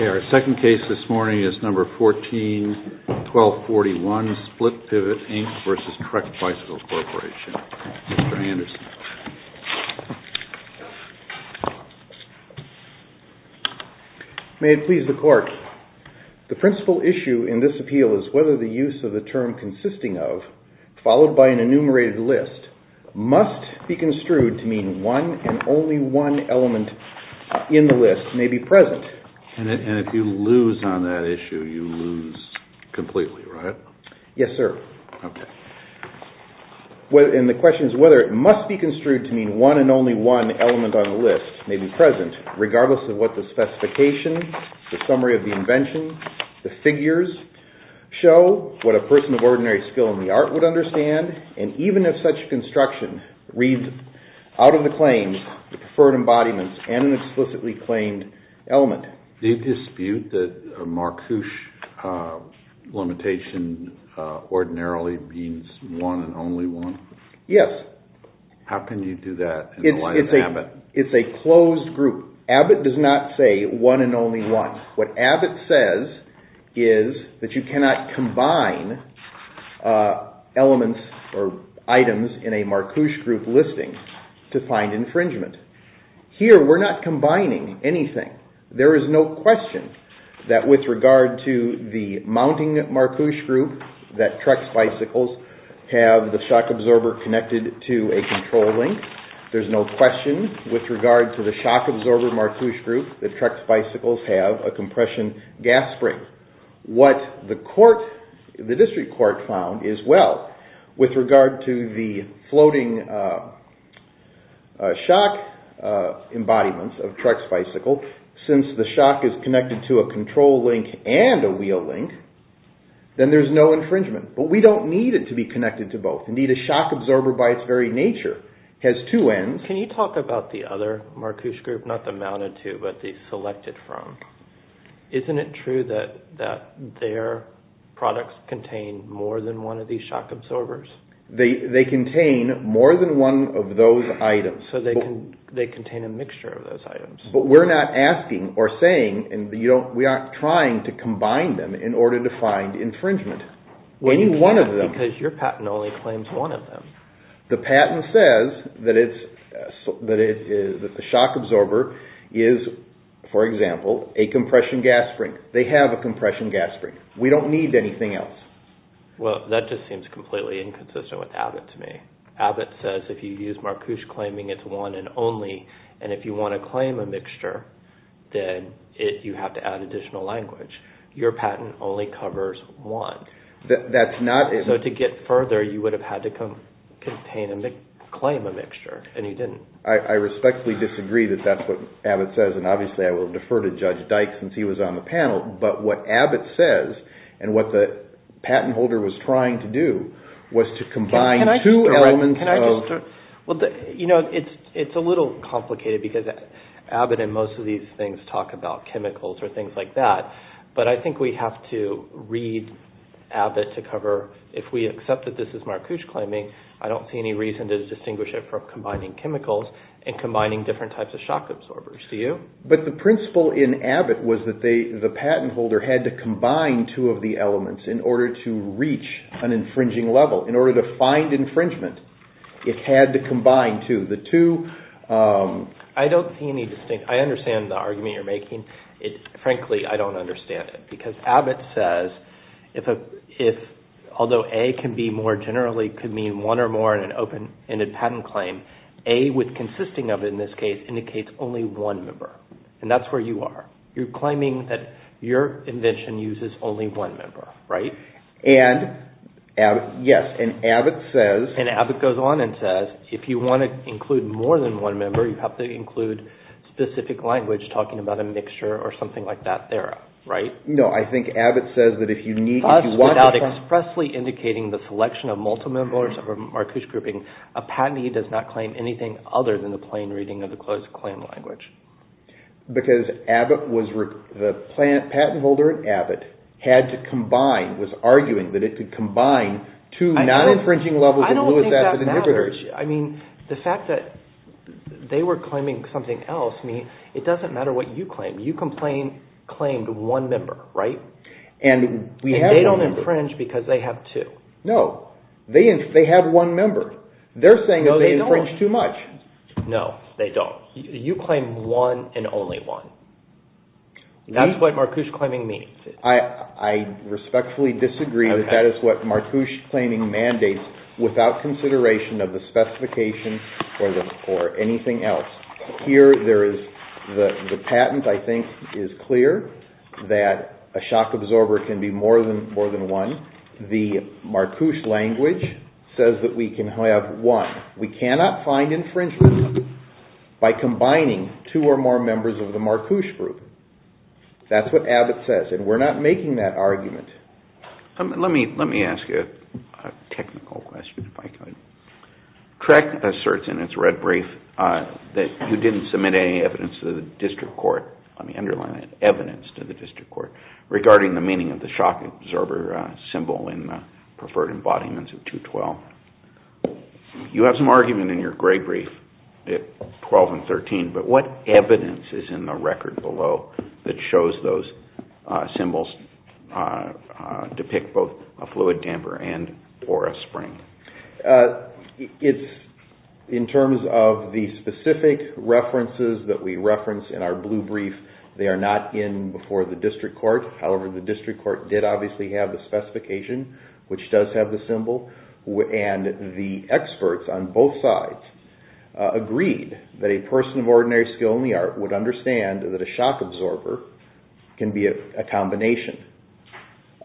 Trek Bicycle Corporation, Inc. v. Trek Bicycle Corporation, Inc. Okay, our second case this morning is number 14-1241, Split Pivot, Inc. v. Trek Bicycle Corporation, Mr. Anderson. May it please the Court, the principal issue in this appeal is whether the use of the term consisting of, followed by an enumerated list, must be construed to mean one and only one element in the list may be present. And if you lose on that issue, you lose completely, right? Yes, sir. Okay. And the question is whether it must be construed to mean one and only one element on the list may be present, regardless of what the specification, the summary of the invention, the figures show, what a person of ordinary skill in the art would understand, and even if such construction read out of preferred embodiments and an explicitly claimed element. Do you dispute that a marquoise limitation ordinarily means one and only one? Yes. How can you do that in the light of Abbott? It's a closed group. Abbott does not say one and only one. What Abbott says is that you cannot combine elements or items in a marquoise group listing to find infringement. Here, we're not combining anything. There is no question that with regard to the mounting marquoise group that Trek Bicycles have the shock absorber connected to a control link. There's no question with regard to the shock absorber marquoise group that Trek Bicycles have a compression gas spring. What the court, the district court, found is, well, with regard to the floating shock embodiments of Trek Bicycles, since the shock is connected to a control link and a wheel link, then there's no infringement. But we don't need it to be connected to both. Indeed, a shock absorber by its very nature has two ends. Can you talk about the other marquoise group, not the mounted two, but the selected from? Isn't it true that their products contain more than one of these shock absorbers? They contain more than one of those items. So they contain a mixture of those items. But we're not asking or saying, we aren't trying to combine them in order to find infringement. You can't because your patent only claims one of them. The patent says that the shock absorber is, for example, a compression gas spring. They have a compression gas spring. We don't need anything else. Well, that just seems completely inconsistent with Abbott to me. Abbott says if you use marquoise claiming it's one and only, and if you want to claim a mixture, then you have to add additional language. Your patent only covers one. So to get further, you would have had to claim a mixture, and you didn't. I respectfully disagree that that's what Abbott says, and obviously I will defer to Judge Dykes since he was on the panel. But what Abbott says, and what the patent holder was trying to do, was to combine two elements of... It's a little complicated because Abbott and most of these things talk about chemicals or things like that, but I think we have to read Abbott to cover, if we accept that this is marquoise claiming, I don't see any reason to distinguish it from combining chemicals and combining different types of shock absorbers. Do you? But the principle in Abbott was that the patent holder had to combine two of the elements in order to reach an infringing level, in order to find infringement. It had to combine two. The two... I don't see any distinct... I understand the argument you're making. Frankly, I don't understand it, because Abbott says, although A can be more generally could mean one or more in an open-ended patent claim, A with consisting of, in this case, indicates only one member, and that's where you are. You're claiming that your invention uses only one member, right? And, yes, and Abbott says... Does that include specific language, talking about a mixture or something like that there? No, I think Abbott says that if you need... Thus, without expressly indicating the selection of multiple members of a marquoise grouping, a patentee does not claim anything other than the plain reading of the closed claim language. Because the patent holder at Abbott had to combine, was arguing that it could combine two non-infringing levels and limit that to the inhibitors. I mean, the fact that they were claiming something else, I mean, it doesn't matter what you claim. You complained, claimed one member, right? And we have... And they don't infringe because they have two. No, they have one member. They're saying that they infringe too much. No, they don't. You claim one and only one. That's what marquoise claiming means. I respectfully disagree that that is what marquoise claiming mandates without consideration of the specification or anything else. Here, there is... The patent, I think, is clear that a shock absorber can be more than one. The marquoise language says that we can have one. We cannot find infringement by combining two or more members of the marquoise group. That's what Abbott says, and we're not making that argument. Let me ask you a technical question, if I could. TREC asserts in its red brief that you didn't submit any evidence to the district court, let me underline that, evidence to the district court, regarding the meaning of the shock absorber symbol in the preferred embodiments of 212. You have some argument in your gray brief at 12 and 13, but what evidence is in the record below that shows those symbols depict both a fluid damper and or a spring? In terms of the specific references that we reference in our blue brief, they are not in before the district court. However, the district court did obviously have the specification, which does have the symbol, and the experts on both sides agreed that a person of ordinary skill in the art would understand that a shock absorber can be a combination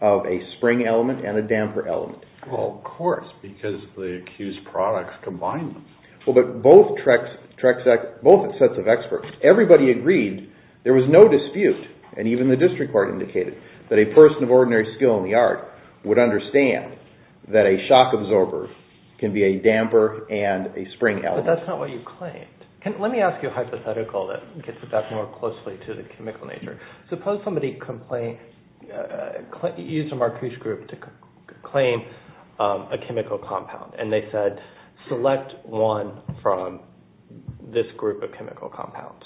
of a spring element and a damper element. Well, of course, because the accused products combine them. Well, but both sets of experts, everybody agreed, there was no dispute, and even the district court indicated that a person of ordinary skill in the art would understand that a shock absorber can be a damper and a spring element. But that's not what you claimed. Let me ask you a hypothetical that gets us back more closely to the chemical nature. Suppose somebody used a Marcuse group to claim a chemical compound, and they said, select one from this group of chemical compounds.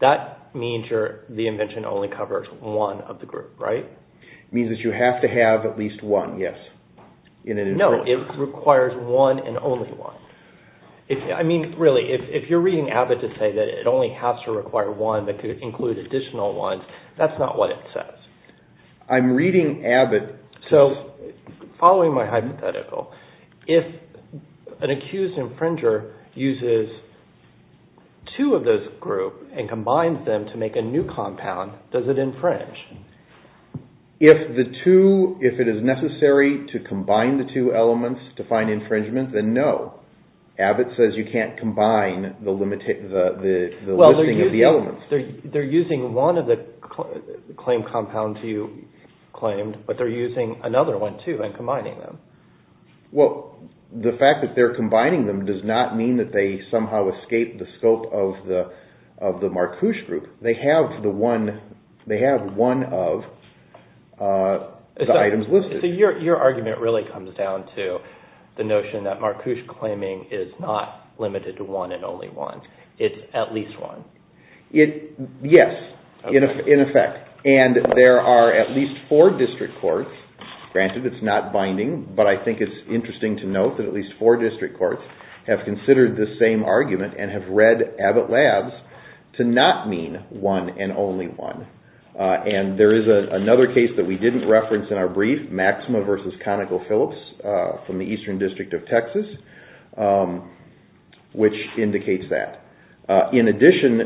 That means the invention only covers one of the group, right? It means that you have to have at least one, yes. No, it requires one and only one. I mean, really, if you're reading Abbott to say that it only has to require one that could include additional ones, that's not what it says. I'm reading Abbott. So following my hypothetical, if an accused infringer uses two of those groups and combines them to make a new compound, does it infringe? If it is necessary to combine the two elements to find infringement, then no. Abbott says you can't combine the listing of the elements. They're using one of the claim compounds you claimed, but they're using another one too and combining them. Well, the fact that they're combining them does not mean that they somehow escape the scope of the Marcuse group. They have one of the items listed. So your argument really comes down to the notion that Marcuse claiming is not limited to one and only one. It's at least one. Yes, in effect. And there are at least four district courts. Granted, it's not binding, but I think it's interesting to note that at least four district courts have considered the same argument and have read Abbott Labs to not mean one and only one. And there is another case that we didn't reference in our brief, Maxima versus ConocoPhillips from the Eastern District of Texas, which indicates that. In addition,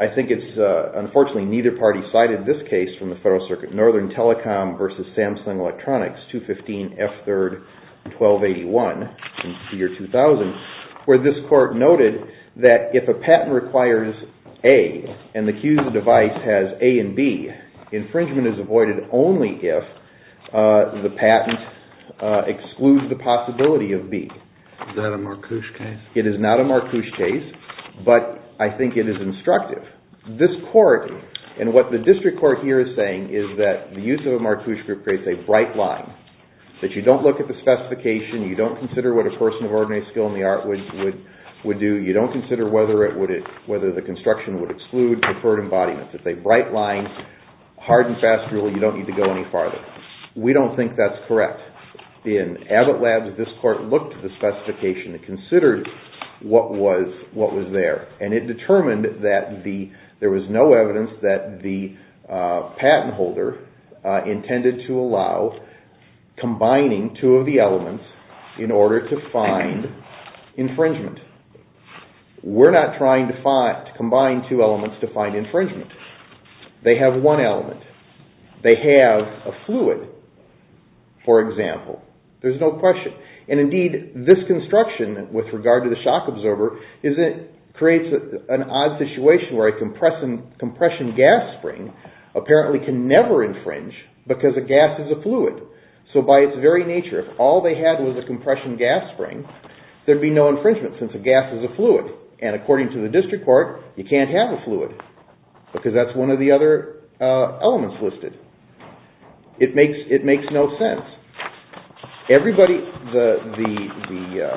I think it's, unfortunately, neither party cited this case from the Federal Circuit, Northern Telecom versus Samsung Electronics, 215F3-1281 in the year 2000, where this court noted that if a patent requires A and the cue of the device has A and B, infringement is avoided only if the patent excludes the possibility of B. Is that a Marcuse case? It is not a Marcuse case, but I think it is instructive. This court, and what the district court here is saying, is that the use of a Marcuse group creates a bright line, that you don't look at the specification, you don't consider what a person of ordinary skill in the art would do, you don't consider whether it would exclude preferred embodiments. If they bright line, hard and fast rule, you don't need to go any farther. We don't think that's correct. In Abbott Labs, this court looked at the specification, considered what was there, and it determined that there was no evidence that the patent holder intended to allow combining two of the elements in order to find infringement. We're not trying to combine two elements to find infringement. They have one element. They have a fluid, for example. There's no question. And indeed, this construction with regard to the shock absorber creates an odd situation where a compression gas spring apparently can never infringe because a gas is a fluid. So by its very nature, if all they had was a compression gas spring, there'd be no infringement since a gas is a fluid. And according to the district court, you can't have a fluid because that's one of the other elements listed. It makes no sense. Everybody, the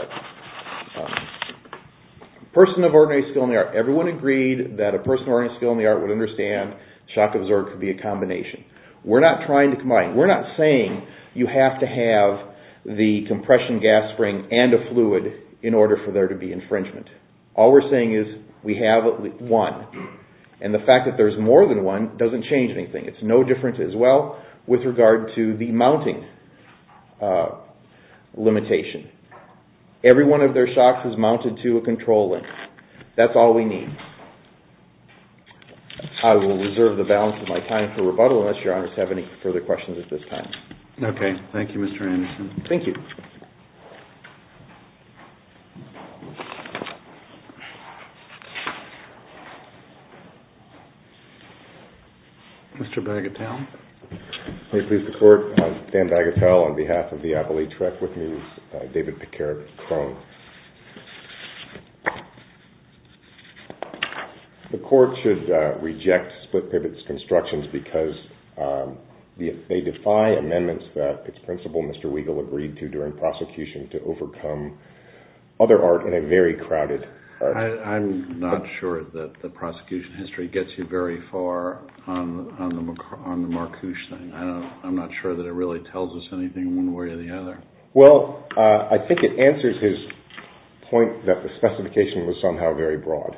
person of ordinary skill in the art, everyone agreed that a person of ordinary skill in the art would understand shock absorber could be a combination. We're not trying to combine. We're not saying you have to have the compression gas spring and a fluid in order for there to be infringement. All we're saying is we have one. And the fact that there's more than one doesn't change anything. It's no different as well with regard to the mounting limitation. Every one of their shocks is mounted to a control link. That's all we need. I will reserve the balance of my time for rebuttal unless your honors have any further questions at this time. Okay. Thank you, Mr. Anderson. Thank you. Mr. Bagatelle. May it please the court, I'm Dan Bagatelle on behalf of the Appalachia Reckwith News. David Picard, Krone. The court should reject split pivots constructions because they defy amendments that its principal, Mr. Weigel, agreed to during prosecution to overcome other art in a very crowded... I'm not sure that the prosecution history gets you very far on the Marcouch thing. I'm not sure that it really tells us anything one way or the other. Well, I think it answers his point that the specification was somehow very broad.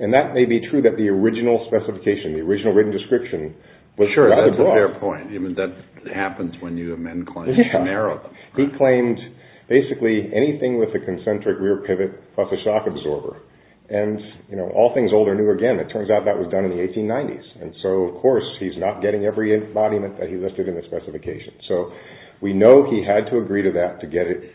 And that may be true that the original specification, the original written description was rather broad. Sure, that's a fair point. I mean, that happens when you amend claims to narrow them. He claimed basically anything with a concentric rear pivot plus a shock absorber. And, you know, all things old or new, again, it turns out that was done in the 1890s. And so, of course, he's not getting every embodiment that he listed in the specification. So we know he had to agree to that to get it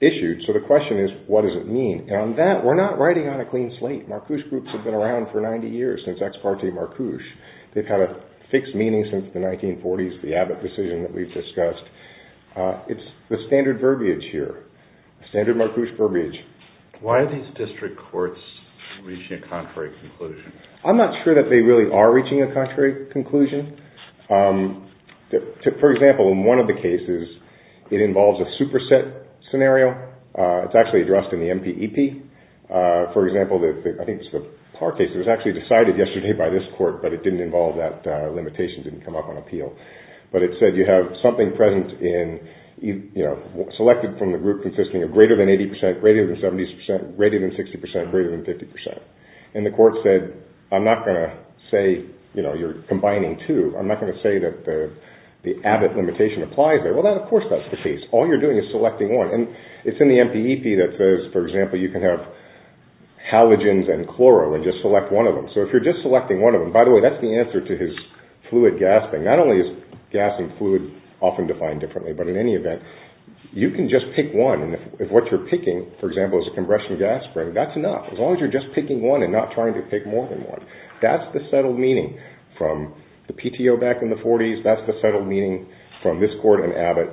issued. So the question is, what does it mean? And on that, we're not writing on a clean slate. Marcouch groups have been around for 90 years since ex parte Marcouch. They've had a fixed meaning since the 1940s, the Abbott decision that we've discussed. It's the standard verbiage here, standard Marcouch verbiage. Why are these district courts reaching a contrary conclusion? I'm not sure that they really are reaching a contrary conclusion. For example, in one of the cases, it involves a superset scenario. It's actually addressed in the MPEP. For example, I think it's the Parr case. It was actually decided yesterday by this court, but it didn't involve that limitation, didn't come up on appeal. But it said you have something present in, selected from the group consisting of greater than 80%, greater than 70%, greater than 60%, greater than 50%. And the court said, I'm not going to say, you're combining two. I'm not going to say that the Abbott limitation applies there. Well, of course that's the case. All you're doing is selecting one. And it's in the MPEP that says, for example, you can have halogens and chloro and just select one of them. So if you're just selecting one of them, by the way, that's the answer to his fluid gasping. Not only is gas and fluid often defined differently, but in any event, you can just pick one. And if what you're picking, for example, is a compression gas spring, that's enough. As long as you're just picking one and not trying to pick more than one. That's the settled meaning from the PTO back in the 40s. That's the settled meaning from this court and Abbott.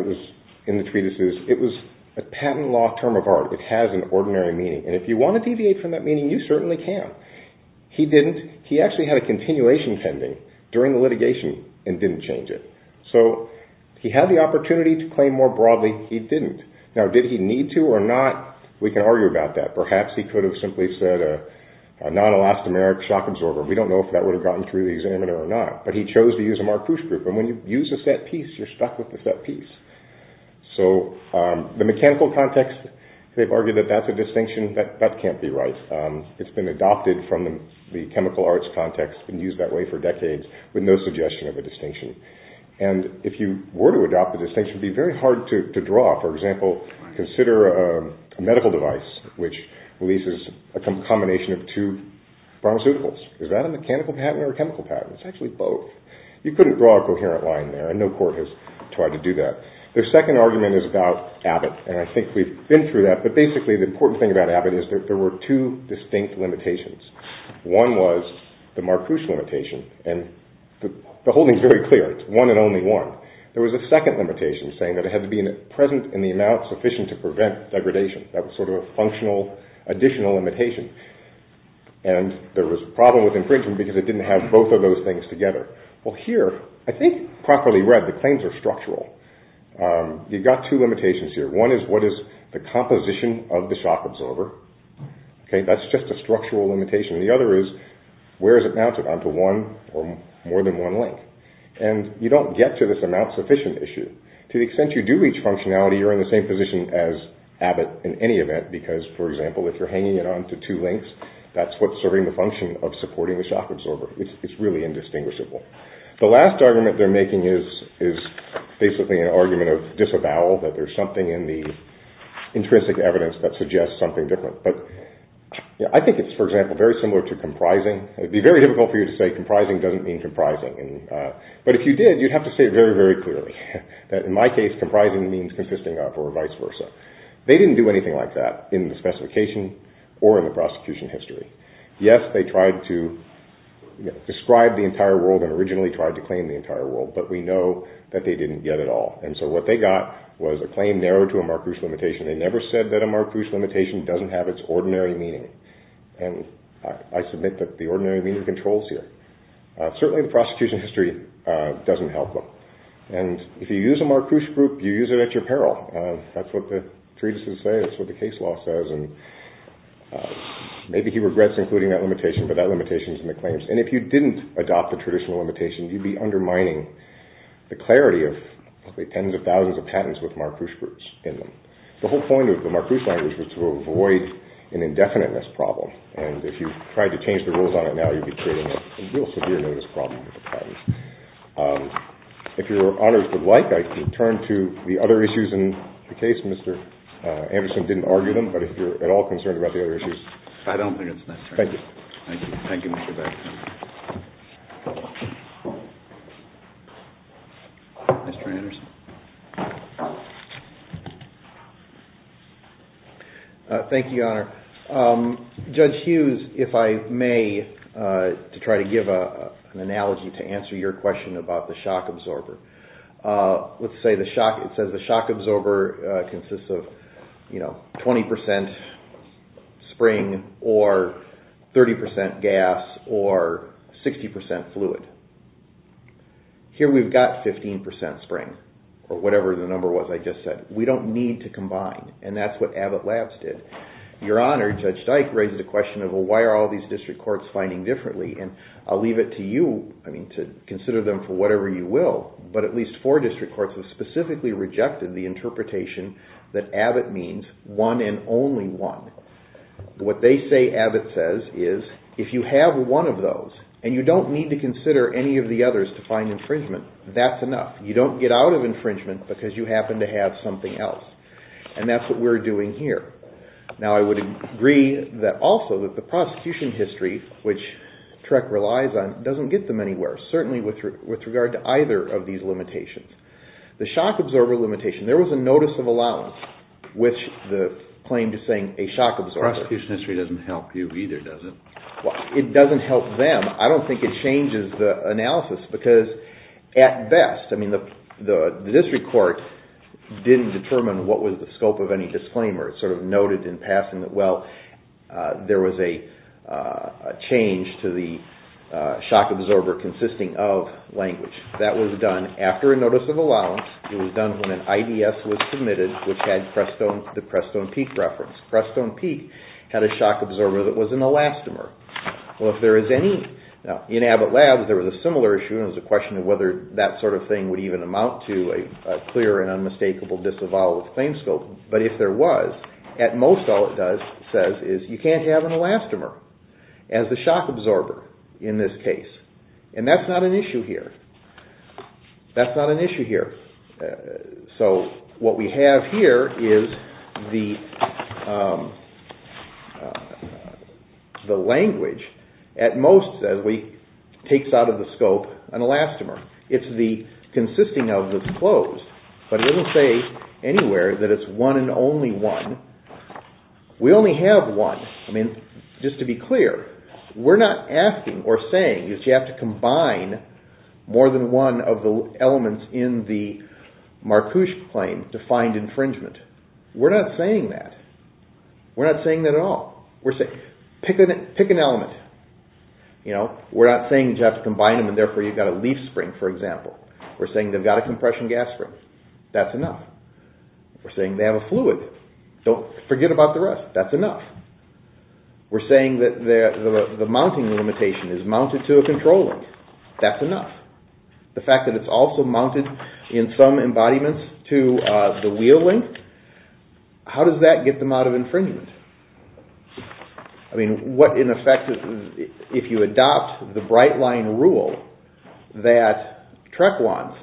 It was in the treatises. It was a patent law term of art. It has an ordinary meaning. And if you want to deviate from that meaning, you certainly can. He didn't. He actually had a continuation pending during the litigation and didn't change it. So he had the opportunity to claim more broadly. He didn't. Now, did he need to or not? We can argue about that. Perhaps he could have simply said a non-elastomeric shock absorber. We don't know if that would have gotten through the examiner or not. But he chose to use a Marcouche group. And when you use a set piece, you're stuck with the set piece. So the mechanical context, they've argued that that's a distinction. That can't be right. It's been adopted from the chemical arts context and used that way for decades with no suggestion of a distinction. And if you were to adopt the distinction, it would be very hard to draw. For example, consider a medical device, which releases a combination of two pharmaceuticals. Is that a mechanical patent or a chemical patent? It's actually both. You couldn't draw a coherent line there. And no court has tried to do that. Their second argument is about Abbott. And I think we've been through that. But basically, the important thing about Abbott is that there were two distinct limitations. One was the Marcouche limitation. And the whole thing is very clear. It's one and only one. There was a second limitation saying that it had to be present in the amount sufficient to prevent degradation. That was sort of a functional additional limitation. And there was a problem with infringement because it didn't have both of those things together. Well, here, I think properly read, the claims are structural. You've got two limitations here. One is, what is the composition of the shock absorber? That's just a structural limitation. The other is, where is it mounted? Onto one or more than one link? And you don't get to this amount sufficient issue. To the extent you do reach functionality, you're in the same position as Abbott in any event. Because, for example, if you're hanging it onto two links, that's what's serving the function of supporting the shock absorber. It's really indistinguishable. The last argument they're making is basically an argument of disavowal, that there's something in the intrinsic evidence that suggests something different. But I think it's, for example, very similar to comprising. It would be very difficult for you to say comprising doesn't mean comprising. But if you did, you'd have to say very, very clearly that, in my case, comprising means consisting up or vice versa. They didn't do anything like that in the specification or in the prosecution history. Yes, they tried to describe the entire world and originally tried to claim the entire world. But we know that they didn't get it all. And so what they got was a claim narrowed to a Marcuse limitation. They never said that a Marcuse limitation doesn't have its ordinary meaning. And I submit that the ordinary meaning controls here. Certainly, the prosecution history doesn't help them. And if you use a Marcuse group, you use it at your peril. That's what the treatises say. That's what the case law says. And maybe he regrets including that limitation, but that limitation's in the claims. And if you didn't adopt the traditional limitation, you'd be undermining the clarity of tens of thousands of patents with Marcuse groups in them. The whole point of the Marcuse language was to avoid an indefiniteness problem. And if you tried to change the rules on it now, you'd be creating a real severe notice problem with the patents. If your honors would like, I can turn to the other issues in the case. Mr. Anderson didn't argue them, but if you're at all concerned about the other issues. I don't think it's necessary. Thank you. Thank you. Thank you, Mr. Beckman. Thank you. Mr. Anderson. Thank you, your honor. Judge Hughes, if I may, to try to give an analogy to answer your question about the shock absorber. Let's say it says the shock absorber consists of 20% spring or 30% gas or 60% fluid. Here we've got 15% spring, or whatever the number was I just said. We don't need to combine. And that's what Abbott Labs did. Your honor, Judge Dyke raised the question of, well, why are all these district courts finding differently? And I'll leave it to you to consider them for whatever you will, but at least four district courts have specifically rejected the interpretation that Abbott means one and only one. What they say Abbott says is, if you have one of those and you don't need to consider any of the others to find infringement, that's enough. You don't get out of infringement because you happen to have something else. And that's what we're doing here. Now, I would agree that also that the prosecution history, which TREC relies on, doesn't get them anywhere, certainly with regard to either of these limitations. The shock absorber limitation, there was a notice of allowance, which the claim to saying a shock absorber. Prosecution history doesn't help you either, does it? It doesn't help them. I don't think it changes the analysis, because at best, I mean, the district court didn't determine what was the scope of any disclaimer. It sort of noted in passing that, well, there was a change to the shock absorber consisting of language. That was done after a notice of allowance. It was done when an IDS was submitted, which had the Preston Peak reference. Preston Peak had a shock absorber that was an elastomer. Well, if there is any, in Abbott Labs, there was a similar issue. It was a question of whether that sort of thing would even amount to a clear and unmistakable disavowal of the claim scope. But if there was, at most, all it says is you can't have an elastomer as the shock absorber in this case. And that's not an issue here. That's not an issue here. So what we have here is the language, at most, as we take out of the scope, an elastomer. It's the consisting of the disclosed. But it doesn't say anywhere that it's one and only one. We only have one. I mean, just to be clear, we're not asking or saying that you have to combine more than one of the elements in the Marcouche claim to find infringement. We're not saying that. We're not saying that at all. We're saying, pick an element. We're not saying that you have to combine them, and therefore, you've got a leaf spring, for example. We're saying they've got a compression gas spring. That's enough. We're saying they have a fluid. Don't forget about the rest. That's enough. We're saying that the mounting limitation is mounted to a control link. That's enough. The fact that it's also mounted in some embodiments to the wheel link, how does that get them out of infringement? I mean, what, in effect, if you adopt the bright line rule that Trek wants,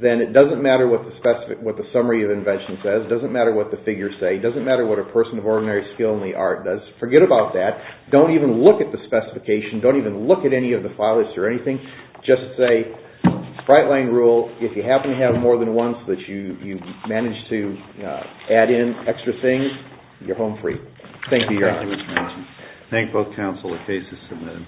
then it doesn't matter what the summary of invention says. It doesn't matter what the figures say. It doesn't matter what a person of ordinary skill in the art does. Forget about that. Don't even look at the specification. Don't even look at any of the files or anything. Just say, bright line rule, if you happen to have more than one so that you manage to add in extra things, you're home free. Thank you, Your Honor. Thank both counsel. The case is submitted.